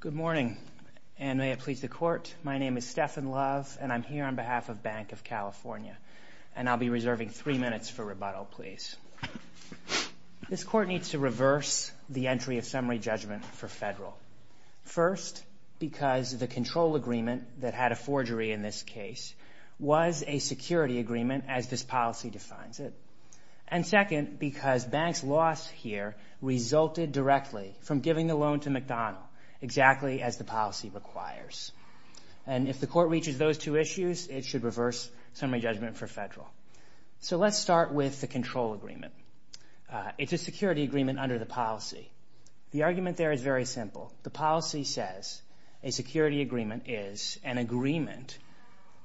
Good morning, and may it please the Court, my name is Stephan Love, and I'm here on behalf of Banc of California, and I'll be reserving three minutes for rebuttal, please. This Court needs to reverse the entry of summary judgment for federal. First, because the control agreement that had a forgery in this case was a security agreement, as this policy defines it. And second, because Banc's loss here resulted directly from giving the loan to McDonald, exactly as the policy requires. And if the Court reaches those two issues, it should reverse summary judgment for federal. So let's start with the control agreement. It's a security agreement under the policy. The argument there is very simple. The policy says a security agreement is an agreement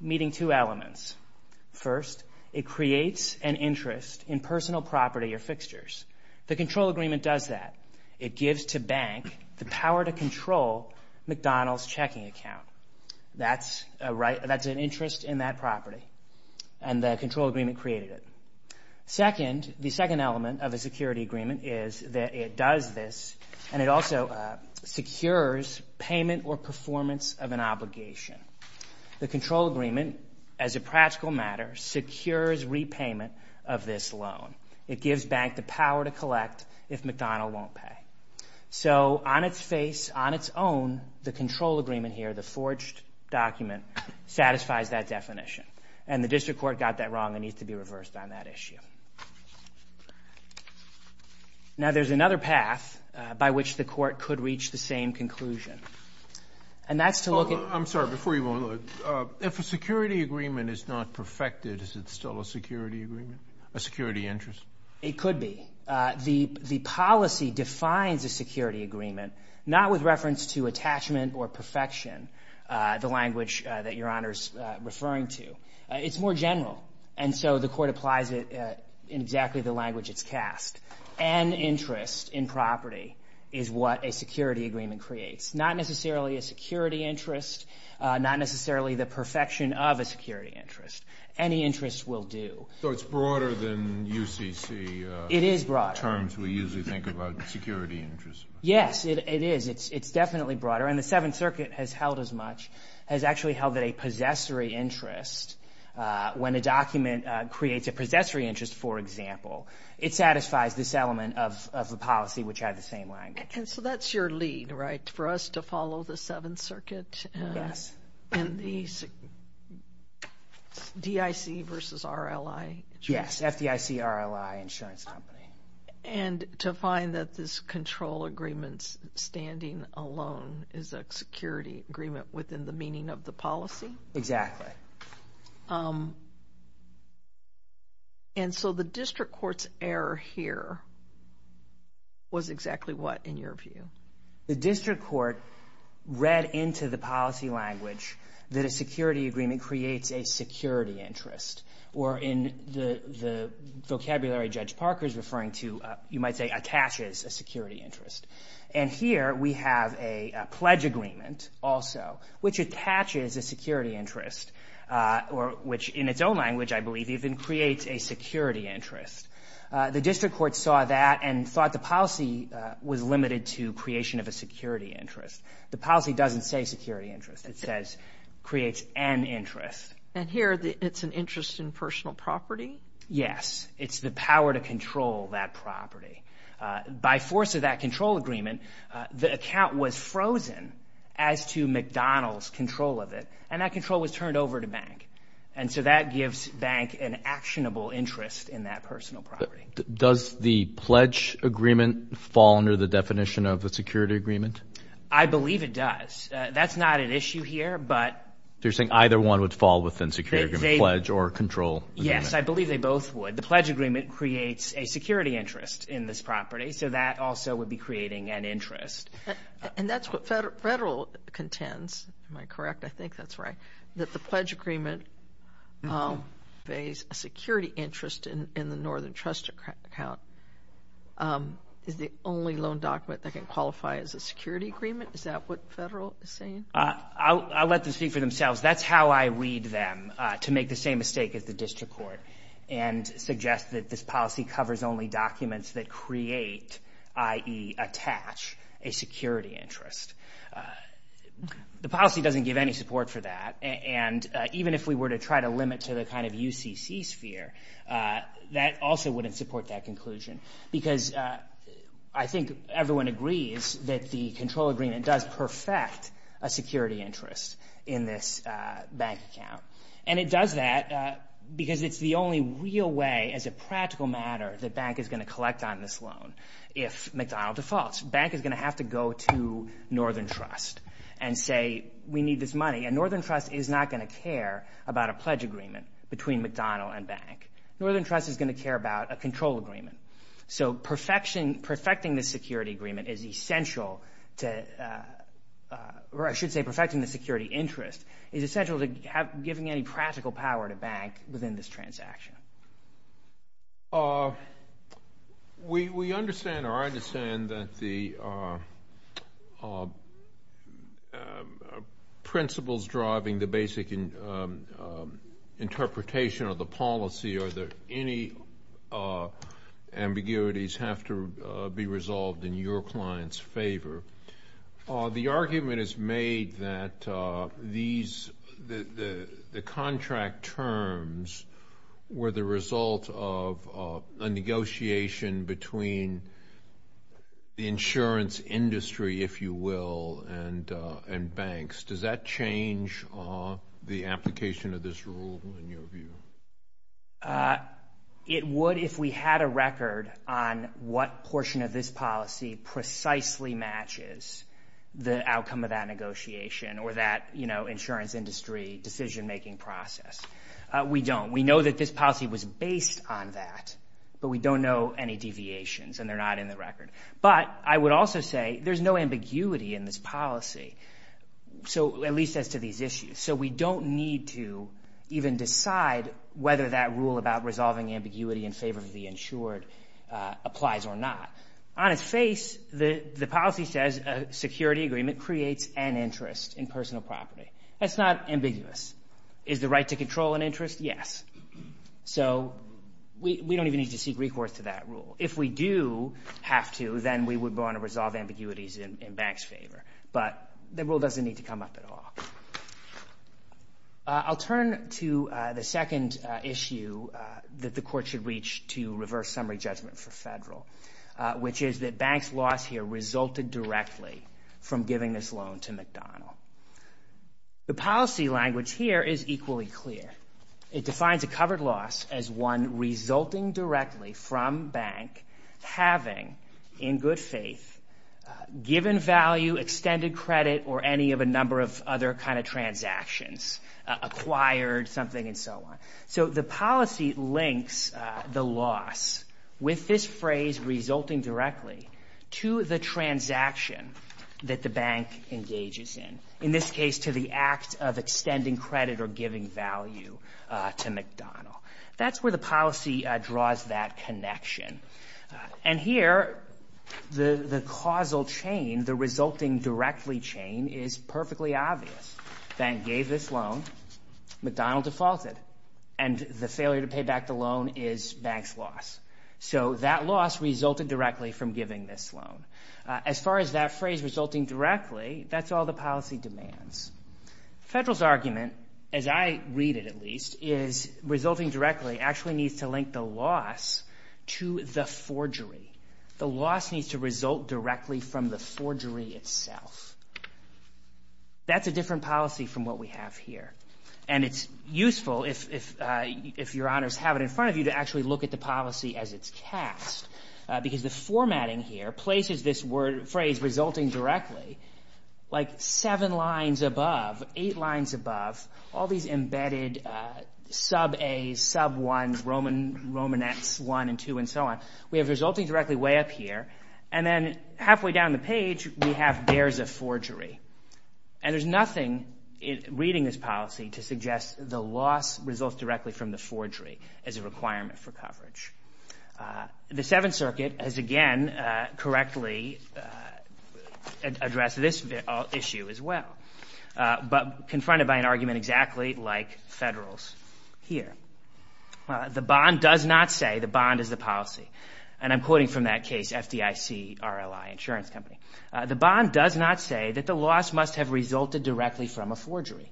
meeting two elements. First, it creates an interest in personal property or fixtures. The control agreement does that. It gives to Banc the power to control McDonald's checking account. That's an interest in that property, and the control agreement created it. Second, the second element of a security agreement is that it does this, and it also secures payment or performance of an obligation. The control agreement, as a practical matter, secures repayment of this loan. It gives Banc the power to collect if McDonald won't pay. So on its face, on its own, the control agreement here, the forged document, satisfies that definition. And the District Court got that wrong and needs to be reversed on that issue. Now, there's another path by which the Court could reach the same conclusion, and that's to look at- I'm sorry, before you go, if a security agreement is not perfected, is it still a security agreement, a security interest? It could be. The policy defines a security agreement, not with reference to attachment or perfection, the language that Your Honor's referring to. It's more general, and so the Court applies it in exactly the language it's cast. An interest in property is what a security agreement creates, not necessarily a security interest, not necessarily the perfection of a security interest. Any interest will do. So it's broader than UCC? It is broader. Terms we usually think about security interests. Yes, it is. It's definitely broader. And the Seventh Circuit has held as much, has actually held that a possessory interest, when a document creates a possessory interest, for example, it satisfies this element of the policy, which had the same language. And so that's your lead, right, for us to follow the Seventh Circuit? Yes. And the DIC versus RLI? Yes, FDIC, RLI, insurance company. And to find that this control agreement's standing alone is a security agreement within the meaning of the policy? Exactly. And so the District Court's error here was exactly what, in your view? The District Court read into the policy language that a security agreement creates a security interest, or in the vocabulary Judge Parker's referring to, you might say attaches a security interest. And here we have a pledge agreement also, which attaches a security interest, or which in its own language, I believe, even creates a security interest. The District Court saw that and thought the policy was limited to creation of a security interest. The policy doesn't say security interest. It says creates an interest. And here it's an interest in personal property? Yes. It's the power to control that property. By force of that control agreement, the account was frozen as to McDonald's control of it, and that control was turned over to bank. And so that gives bank an actionable interest in that personal property. Does the pledge agreement fall under the definition of a security agreement? I believe it does. That's not an issue here, but... So you're saying either one would fall within security agreement, pledge or control? Yes, I believe they both would. The pledge agreement creates a security interest in this property, so that also would be creating an interest. And that's what federal contends, am I correct? I think that's right. That the pledge agreement pays a security interest in the Northern Trust account. Is the only loan document that can qualify as a security agreement? Is that what federal is saying? I'll let them speak for themselves. That's how I read them, to make the same mistake as the District Court and suggest that this policy covers only documents that create, i.e. attach, a security interest. The policy doesn't give any support for that. And even if we were to try to limit to the kind of UCC sphere, that also wouldn't support that conclusion. Because I think everyone agrees that the control agreement does perfect a security interest in this bank account. And it does that because it's the only real way, as a practical matter, that bank is going to collect on this loan. If McDonald defaults, bank is going to have to go to Northern Trust and say, we need this money. And Northern Trust is not going to care about a pledge agreement between McDonald and bank. Northern Trust is going to care about a control agreement. So perfecting the security agreement is essential to, or I should say perfecting the security interest, is essential to giving any practical power to bank within this transaction. We understand, or I understand, that the principles driving the basic interpretation of the policy, or that any ambiguities have to be resolved in your client's favor. The argument is made that the contract terms were the result of a negotiation between the insurance industry, if you will, and banks. Does that change the application of this rule, in your view? It would if we had a record on what portion of this policy precisely matches the outcome of that negotiation, or that insurance industry decision-making process. We don't. We know that this policy was based on that, but we don't know any deviations, and they're not in the record. But I would also say there's no ambiguity in this policy, at least as to these issues. So we don't need to even decide whether that rule about resolving ambiguity in favor of the insured applies or not. On its face, the policy says a security agreement creates an interest in personal property. That's not ambiguous. Is the right to control an interest? Yes. So we don't even need to seek recourse to that rule. If we do have to, then we would want to resolve ambiguities in banks' favor. But the rule doesn't need to come up at all. I'll turn to the second issue that the court should reach to reverse summary judgment for federal, which is that banks' loss here resulted directly from giving this loan to McDonald. The policy language here is equally clear. It defines a covered loss as one resulting directly from bank having, in good faith, given value, extended credit, or any of a number of other kind of transactions, acquired something, and so on. So the policy links the loss with this phrase resulting directly to the transaction that the bank engages in, in this case to the act of extending credit or giving value to McDonald. That's where the policy draws that connection. And here, the causal chain, the resulting directly chain, is perfectly obvious. Bank gave this loan. McDonald defaulted. And the failure to pay back the loan is bank's loss. So that loss resulted directly from giving this loan. As far as that phrase resulting directly, that's all the policy demands. Federal's argument, as I read it at least, is resulting directly actually needs to link the loss to the forgery. The loss needs to result directly from the forgery itself. That's a different policy from what we have here. And it's useful, if your honors have it in front of you, to actually look at the policy as it's cast, because the formatting here places this phrase resulting directly like seven lines above, eight lines above, all these embedded sub-A's, sub-1's, Romanettes 1 and 2 and so on. We have resulting directly way up here. And then halfway down the page, we have there's a forgery. And there's nothing reading this policy to suggest the loss results directly from the forgery as a requirement for coverage. The Seventh Circuit has, again, correctly addressed this issue as well, but confronted by an argument exactly like Federal's here. The bond does not say the bond is the policy. And I'm quoting from that case, FDIC, RLI, insurance company. The bond does not say that the loss must have resulted directly from a forgery.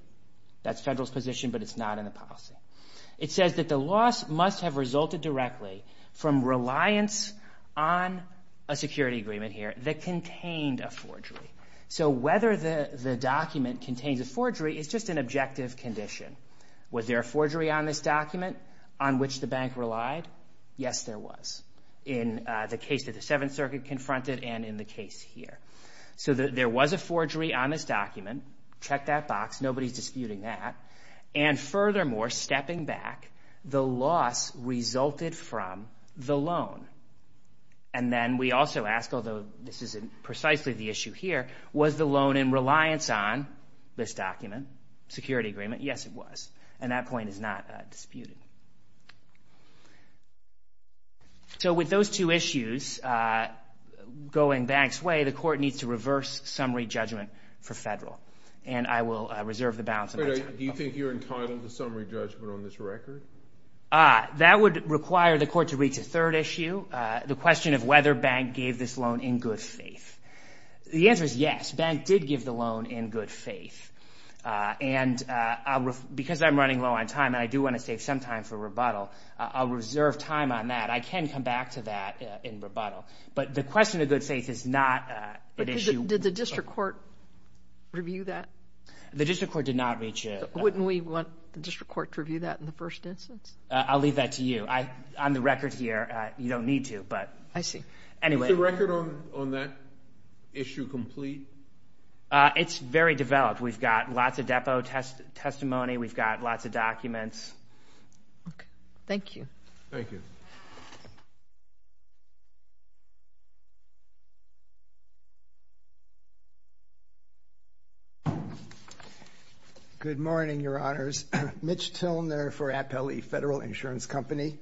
That's Federal's position, but it's not in the policy. It says that the loss must have resulted directly from reliance on a security agreement here that contained a forgery. So whether the document contains a forgery is just an objective condition. Was there a forgery on this document on which the bank relied? Yes, there was in the case that the Seventh Circuit confronted and in the case here. So there was a forgery on this document. Check that box. Nobody's disputing that. And furthermore, stepping back, the loss resulted from the loan. And then we also ask, although this isn't precisely the issue here, was the loan in reliance on this document, security agreement? Yes, it was. And that point is not disputed. So with those two issues going banks' way, the court needs to reverse summary judgment for Federal. And I will reserve the balance of my time. Do you think you're entitled to summary judgment on this record? That would require the court to reach a third issue, the question of whether bank gave this loan in good faith. The answer is yes, bank did give the loan in good faith. And because I'm running low on time and I do want to save some time for rebuttal, I'll reserve time on that. I can come back to that in rebuttal. But the question of good faith is not an issue. Did the district court review that? The district court did not reach it. Wouldn't we want the district court to review that in the first instance? I'll leave that to you. On the record here, you don't need to. I see. Is the record on that issue complete? It's very developed. We've got lots of depo testimony. We've got lots of documents. Thank you. Thank you. Good morning, Your Honors. Mitch Tilner for Appellee Federal Insurance Company.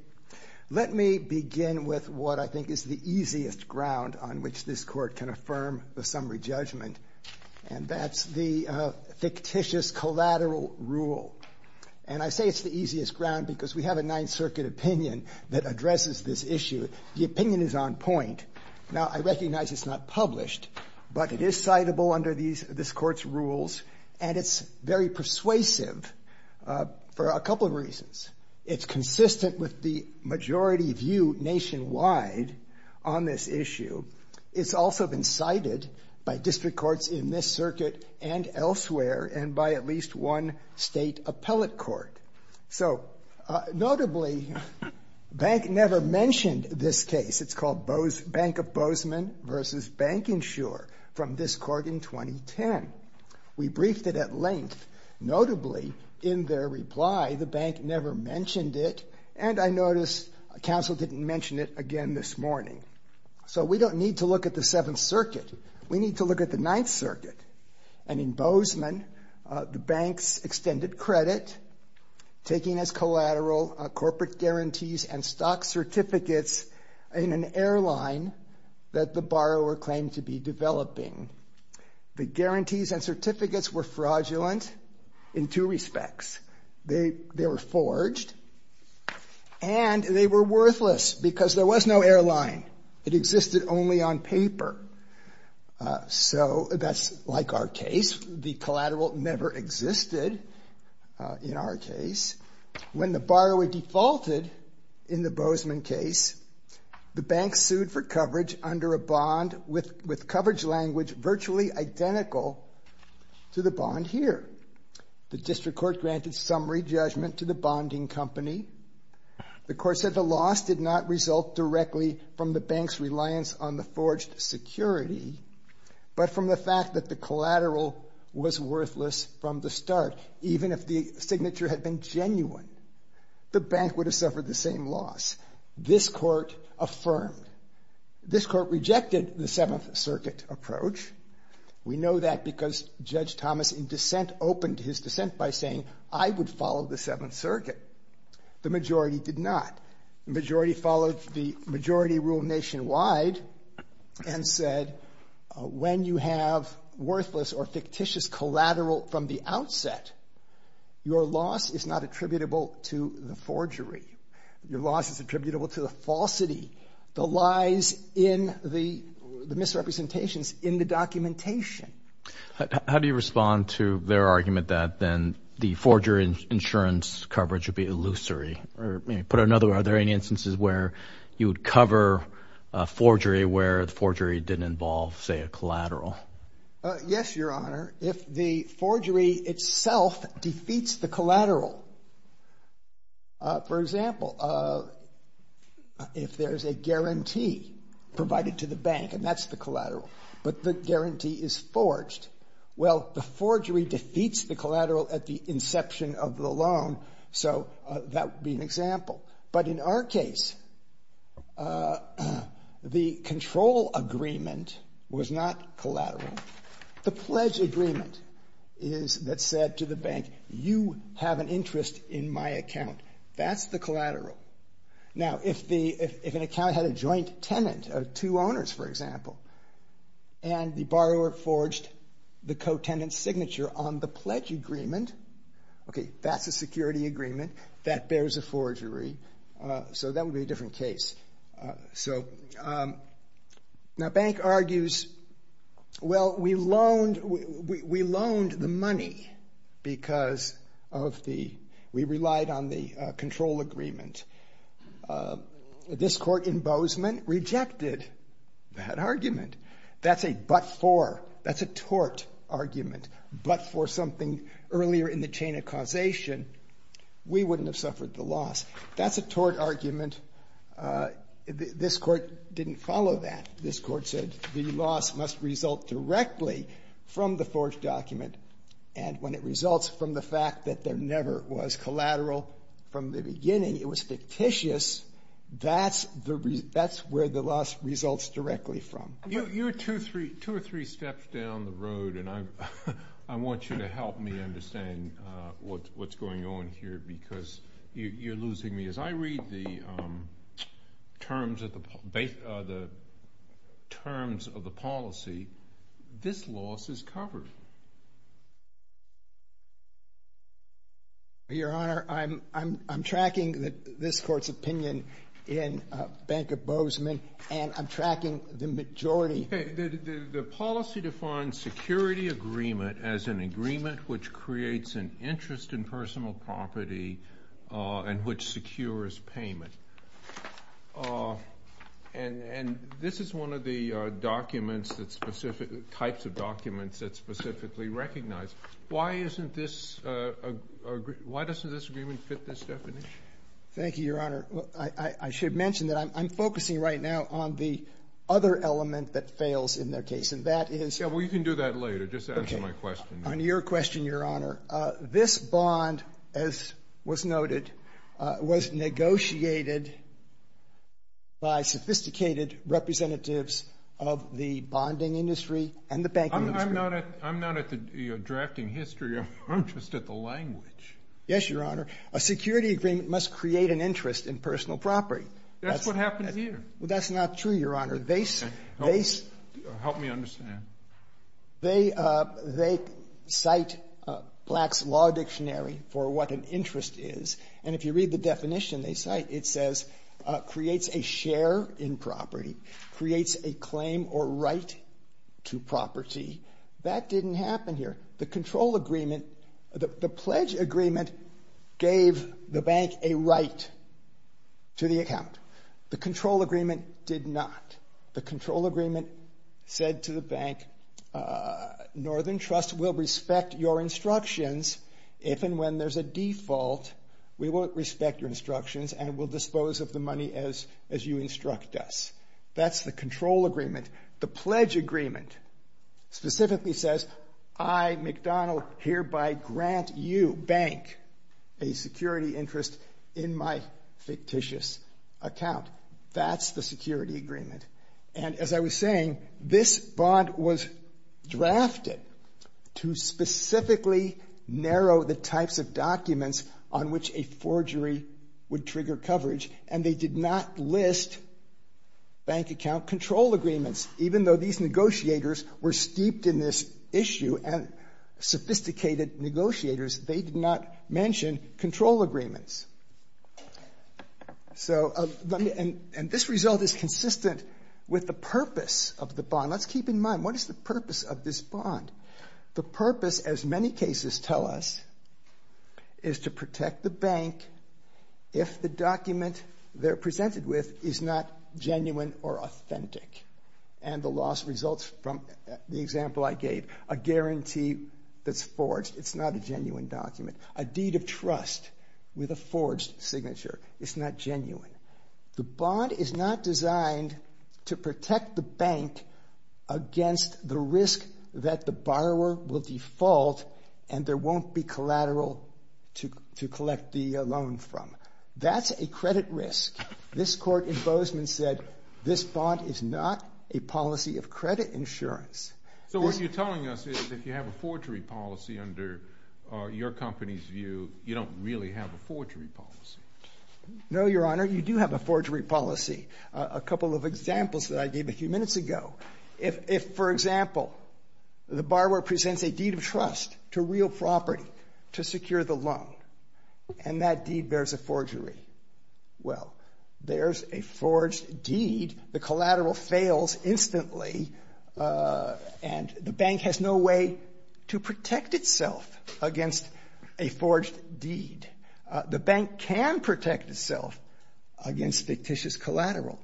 Let me begin with what I think is the easiest ground on which this court can affirm the summary judgment. And that's the fictitious collateral rule. And I say it's the easiest ground because we have a Ninth Circuit opinion that addresses this issue. The opinion is on point. Now, I recognize it's not published, but it is citable under this court's rules, and it's very persuasive for a couple of reasons. It's consistent with the majority view nationwide on this issue. It's also been cited by district courts in this circuit and elsewhere and by at least one state appellate court. So, notably, the bank never mentioned this case. It's called Bank of Bozeman v. Bank Insure from this court in 2010. We briefed it at length. Notably, in their reply, the bank never mentioned it, and I noticed counsel didn't mention it again this morning. So we don't need to look at the Seventh Circuit. We need to look at the Ninth Circuit. And in Bozeman, the banks extended credit, taking as collateral corporate guarantees and stock certificates in an airline that the borrower claimed to be developing. The guarantees and certificates were fraudulent in two respects. They were forged, and they were worthless because there was no airline. It existed only on paper. So that's like our case. The collateral never existed in our case. When the borrower defaulted in the Bozeman case, the bank sued for coverage under a bond with coverage language virtually identical to the bond here. The district court granted summary judgment to the bonding company. The court said the loss did not result directly from the bank's reliance on the forged security, but from the fact that the collateral was worthless from the start. Even if the signature had been genuine, the bank would have suffered the same loss. This court affirmed. This court rejected the Seventh Circuit approach. We know that because Judge Thomas in dissent opened his dissent by saying, I would follow the Seventh Circuit. The majority did not. The majority followed the majority rule nationwide and said, when you have worthless or fictitious collateral from the outset, your loss is not attributable to the forgery. Your loss is attributable to the falsity. The lies in the misrepresentations in the documentation. How do you respond to their argument that then the forgery insurance coverage would be illusory? Put another way, are there any instances where you would cover forgery where the forgery didn't involve, say, a collateral? Yes, Your Honor. If the forgery itself defeats the collateral, for example, if there's a guarantee provided to the bank and that's the collateral, but the guarantee is forged, well, the forgery defeats the collateral at the inception of the loan, so that would be an example. But in our case, the control agreement was not collateral. The pledge agreement is that said to the bank, you have an interest in my account. That's the collateral. Now, if an account had a joint tenant of two owners, for example, and the borrower forged the co-tenant's signature on the pledge agreement, okay, that's a security agreement. That bears a forgery. So that would be a different case. Now, Bank argues, well, we loaned the money because we relied on the control agreement. This court in Bozeman rejected that argument. That's a but-for. That's a tort argument. But for something earlier in the chain of causation, we wouldn't have suffered the loss. That's a tort argument. This court didn't follow that. This court said the loss must result directly from the forged document, and when it results from the fact that there never was collateral from the beginning, it was fictitious, that's where the loss results directly from. You're two or three steps down the road, and I want you to help me understand what's going on here because you're losing me. As I read the terms of the policy, this loss is covered. Your Honor, I'm tracking this court's opinion in Bank of Bozeman, and I'm tracking the majority. Okay. The policy defines security agreement as an agreement which creates an interest in personal property and which secures payment. And this is one of the types of documents that's specifically recognized. Why doesn't this agreement fit this definition? Thank you, Your Honor. Your Honor, I should mention that I'm focusing right now on the other element that fails in their case, and that is the bond. Yeah, well, you can do that later. Just answer my question. Okay. On your question, Your Honor, this bond, as was noted, was negotiated by sophisticated representatives of the bonding industry and the banking industry. I'm not at the drafting history. I'm just at the language. Yes, Your Honor. A security agreement must create an interest in personal property. That's what happens here. Well, that's not true, Your Honor. Help me understand. They cite Black's Law Dictionary for what an interest is, and if you read the definition they cite, it says creates a share in property, creates a claim or right to property. That didn't happen here. The control agreement, the pledge agreement, gave the bank a right to the account. The control agreement did not. The control agreement said to the bank, Northern Trust will respect your instructions if and when there's a default, we won't respect your instructions, and we'll dispose of the money as you instruct us. That's the control agreement. The pledge agreement specifically says I, McDonnell, hereby grant you, bank, a security interest in my fictitious account. That's the security agreement. And as I was saying, this bond was drafted to specifically narrow the types of documents on which a forgery would trigger coverage, and they did not list bank account control agreements. Even though these negotiators were steeped in this issue and sophisticated negotiators, they did not mention control agreements. And this result is consistent with the purpose of the bond. Let's keep in mind, what is the purpose of this bond? The purpose, as many cases tell us, is to protect the bank if the document they're presented with is not genuine or authentic. And the loss results from the example I gave, a guarantee that's forged. It's not a genuine document. A deed of trust with a forged signature is not genuine. The bond is not designed to protect the bank against the risk that the borrower will default and there won't be collateral to collect the loan from. That's a credit risk. This court in Bozeman said this bond is not a policy of credit insurance. So what you're telling us is if you have a forgery policy under your company's view, you don't really have a forgery policy. No, Your Honor, you do have a forgery policy. A couple of examples that I gave a few minutes ago. If, for example, the borrower presents a deed of trust to real property to secure the loan, and that deed bears a forgery, well, there's a forged deed. The collateral fails instantly, and the bank has no way to protect itself against a forged deed. The bank can protect itself against fictitious collateral.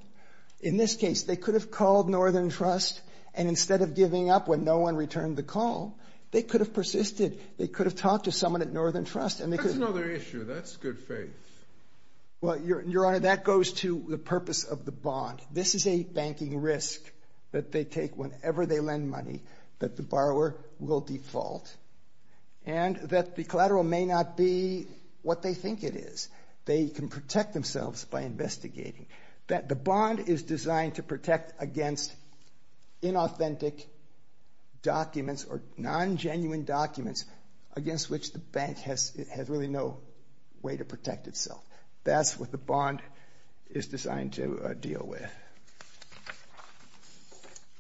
In this case, they could have called Northern Trust, and instead of giving up when no one returned the call, they could have persisted. They could have talked to someone at Northern Trust. That's another issue. That's good faith. Well, Your Honor, that goes to the purpose of the bond. default, and that the collateral may not be what they think it is. They can protect themselves by investigating. The bond is designed to protect against inauthentic documents or non-genuine documents against which the bank has really no way to protect itself. That's what the bond is designed to deal with.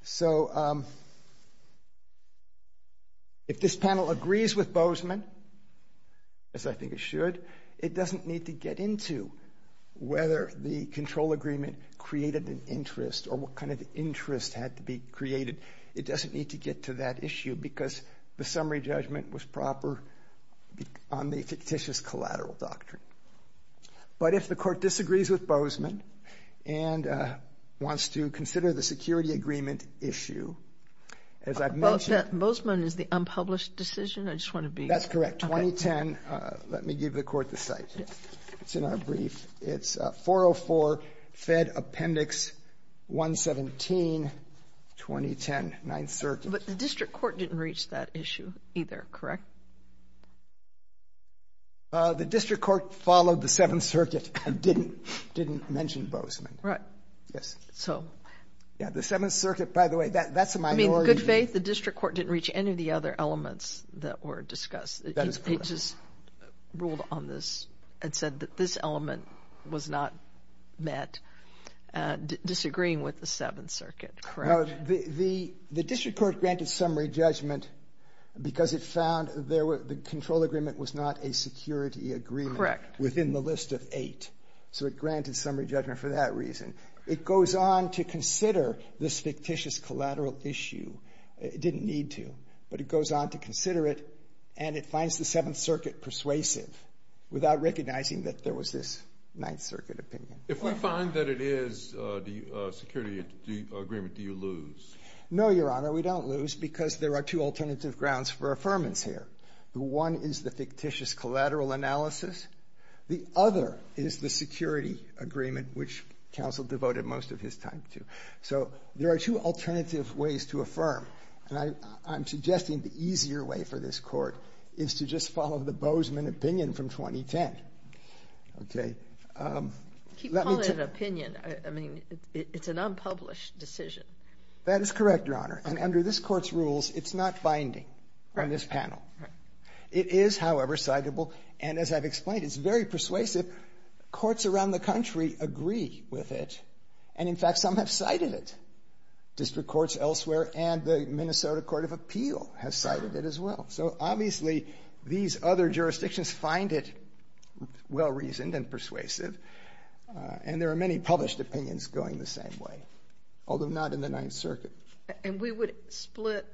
So if this panel agrees with Bozeman, as I think it should, it doesn't need to get into whether the control agreement created an interest or what kind of interest had to be created. It doesn't need to get to that issue because the summary judgment was proper on the fictitious collateral doctrine. But if the court disagrees with Bozeman and wants to consider the security agreement issue, as I've mentioned. Well, if Bozeman is the unpublished decision, I just want to be. That's correct. 2010, let me give the court the site. It's in our brief. It's 404 Fed Appendix 117, 2010, 9th Circuit. But the district court didn't reach that issue either, correct? The district court followed the 7th Circuit and didn't mention Bozeman. Right. Yes. So. Yeah, the 7th Circuit, by the way, that's a minority. I mean, good faith, the district court didn't reach any of the other elements that were discussed. That is correct. It just ruled on this and said that this element was not met, disagreeing with the 7th Circuit, correct? The district court granted summary judgment because it found the control agreement was not a security agreement within the list of eight. So it granted summary judgment for that reason. It goes on to consider this fictitious collateral issue. It didn't need to, but it goes on to consider it, and it finds the 7th Circuit persuasive without recognizing that there was this 9th Circuit opinion. If we find that it is the security agreement, do you lose? No, Your Honor, we don't lose because there are two alternative grounds for affirmance here. One is the fictitious collateral analysis. The other is the security agreement, which counsel devoted most of his time to. So there are two alternative ways to affirm, and I'm suggesting the easier way for this court is to just follow the Bozeman opinion from 2010, okay? Keep calling it an opinion. I mean, it's an unpublished decision. That is correct, Your Honor, and under this court's rules, it's not binding on this panel. It is, however, citable, and as I've explained, it's very persuasive. Courts around the country agree with it, and in fact, some have cited it. District courts elsewhere and the Minnesota Court of Appeal have cited it as well. So obviously, these other jurisdictions find it well-reasoned and persuasive, and there are many published opinions going the same way, although not in the 9th Circuit. And we would split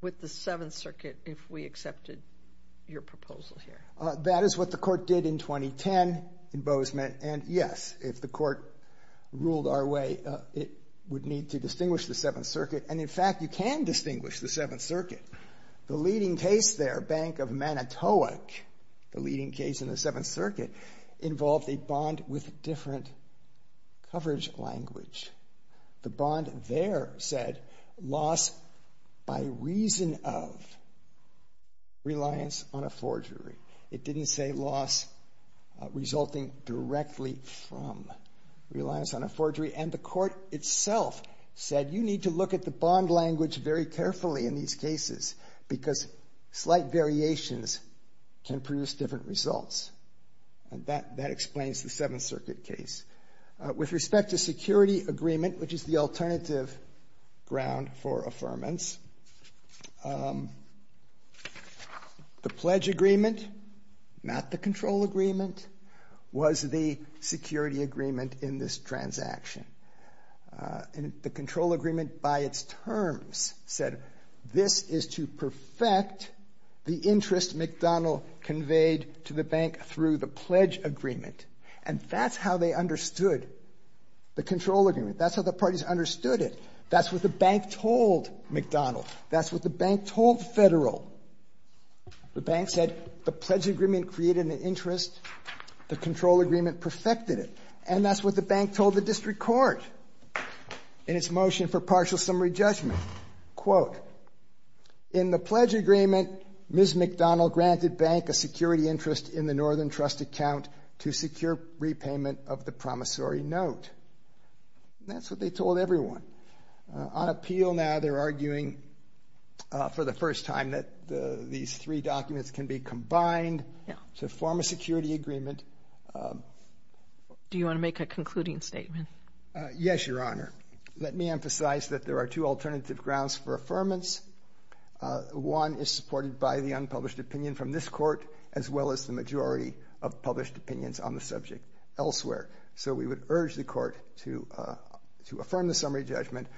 with the 7th Circuit if we accepted your proposal here? That is what the court did in 2010 in Bozeman, and, yes, if the court ruled our way, it would need to distinguish the 7th Circuit, and in fact, you can distinguish the 7th Circuit. The leading case there, Bank of Manitowoc, the leading case in the 7th Circuit, involved a bond with different coverage language. The bond there said loss by reason of reliance on a forgery. It didn't say loss resulting directly from reliance on a forgery, and the court itself said you need to look at the bond language very carefully in these cases because slight variations can produce different results, and that explains the 7th Circuit case. With respect to security agreement, which is the alternative ground for affirmance, the pledge agreement, not the control agreement, was the security agreement in this transaction, and the control agreement by its terms said this is to perfect the interest McDonald conveyed to the bank through the pledge agreement, and that's how they understood the control agreement. That's how the parties understood it. That's what the bank told McDonald. That's what the bank told Federal. The bank said the pledge agreement created an interest. The control agreement perfected it, and that's what the bank told the district court in its motion for partial summary judgment. Quote, in the pledge agreement, Ms. McDonald granted bank a security interest in the Northern Trust account to secure repayment of the promissory note. That's what they told everyone. On appeal now, they're arguing for the first time that these three documents can be combined to form a security agreement. Do you want to make a concluding statement? Yes, Your Honor. Let me emphasize that there are two alternative grounds for affirmance. One is supported by the unpublished opinion from this court as well as the majority of published opinions on the subject elsewhere, so we would urge the court to affirm the summary judgment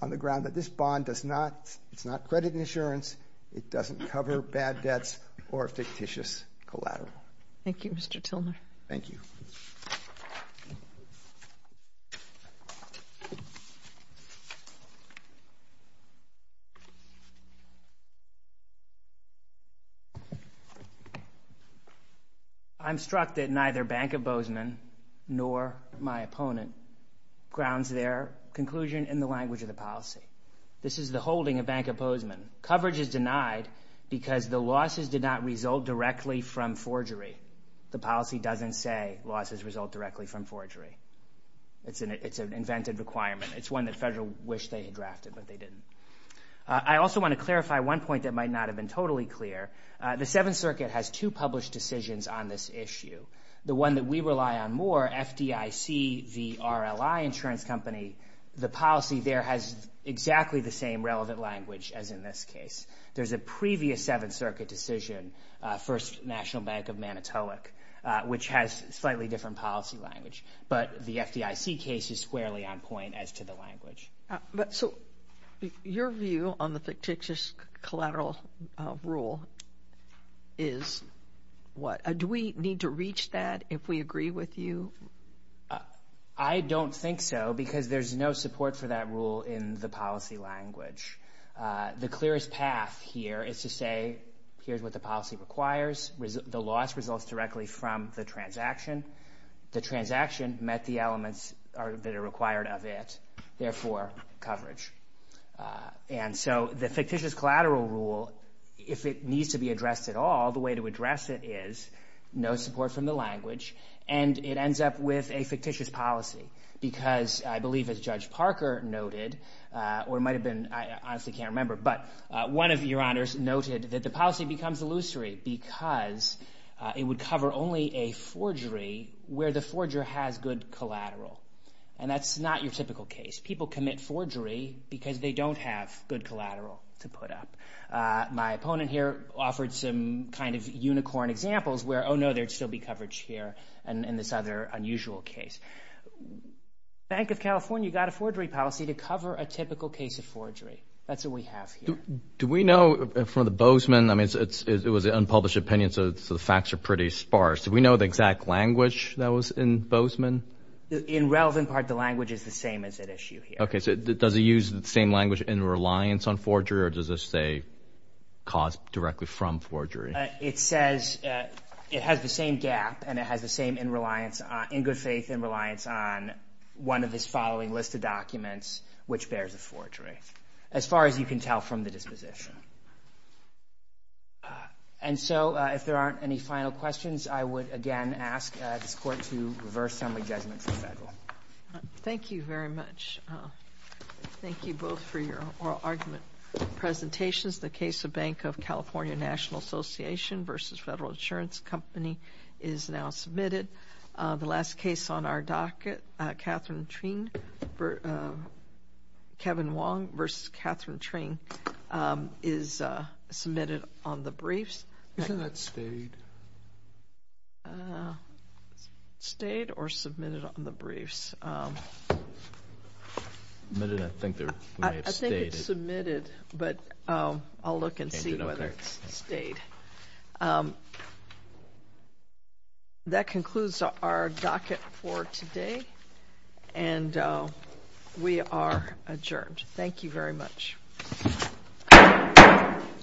on the ground that this bond is not credit and insurance. It doesn't cover bad debts or fictitious collateral. Thank you, Mr. Tilner. Thank you. Thank you. I'm struck that neither Bank of Bozeman nor my opponent grounds their conclusion in the language of the policy. This is the holding of Bank of Bozeman. Coverage is denied because the losses did not result directly from forgery. The policy doesn't say losses result directly from forgery. It's an invented requirement. It's one that Federal wished they had drafted, but they didn't. I also want to clarify one point that might not have been totally clear. The Seventh Circuit has two published decisions on this issue. The one that we rely on more, FDIC v. RLI Insurance Company, the policy there has exactly the same relevant language as in this case. There's a previous Seventh Circuit decision, First National Bank of Manitowoc, which has slightly different policy language, but the FDIC case is squarely on point as to the language. So your view on the fictitious collateral rule is what? Do we need to reach that if we agree with you? I don't think so because there's no support for that rule in the policy language. The clearest path here is to say here's what the policy requires. The loss results directly from the transaction. The transaction met the elements that are required of it, therefore coverage. And so the fictitious collateral rule, if it needs to be addressed at all, the way to address it is no support from the language, and it ends up with a fictitious policy because I believe, as Judge Parker noted, or it might have been, I honestly can't remember, but one of your honors noted that the policy becomes illusory because it would cover only a forgery where the forger has good collateral. And that's not your typical case. People commit forgery because they don't have good collateral to put up. My opponent here offered some kind of unicorn examples where, oh, no, there'd still be coverage here in this other unusual case. Bank of California got a forgery policy to cover a typical case of forgery. That's what we have here. Do we know from the Bozeman, I mean, it was an unpublished opinion, so the facts are pretty sparse. Do we know the exact language that was in Bozeman? In relevant part, the language is the same as at issue here. Okay, so does it use the same language in reliance on forgery or does it say caused directly from forgery? It says it has the same gap and it has the same in reliance, on one of the following list of documents which bears a forgery, as far as you can tell from the disposition. And so if there aren't any final questions, I would again ask this Court to reverse some of the judgments of federal. Thank you very much. Thank you both for your oral argument presentations. The case of Bank of California National Association versus Federal Insurance Company is now submitted. The last case on our docket, Catherine Trinh, Kevin Wong versus Catherine Trinh, is submitted on the briefs. Isn't that stayed? Stayed or submitted on the briefs? Submitted, I think they may have stayed. I think it's submitted, but I'll look and see whether it's stayed. That concludes our docket for today. And we are adjourned. Thank you very much.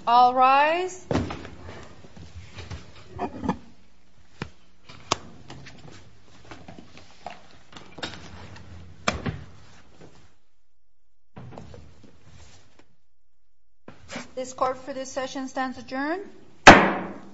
All rise. This Court for this session stands adjourned. Court is adjourned.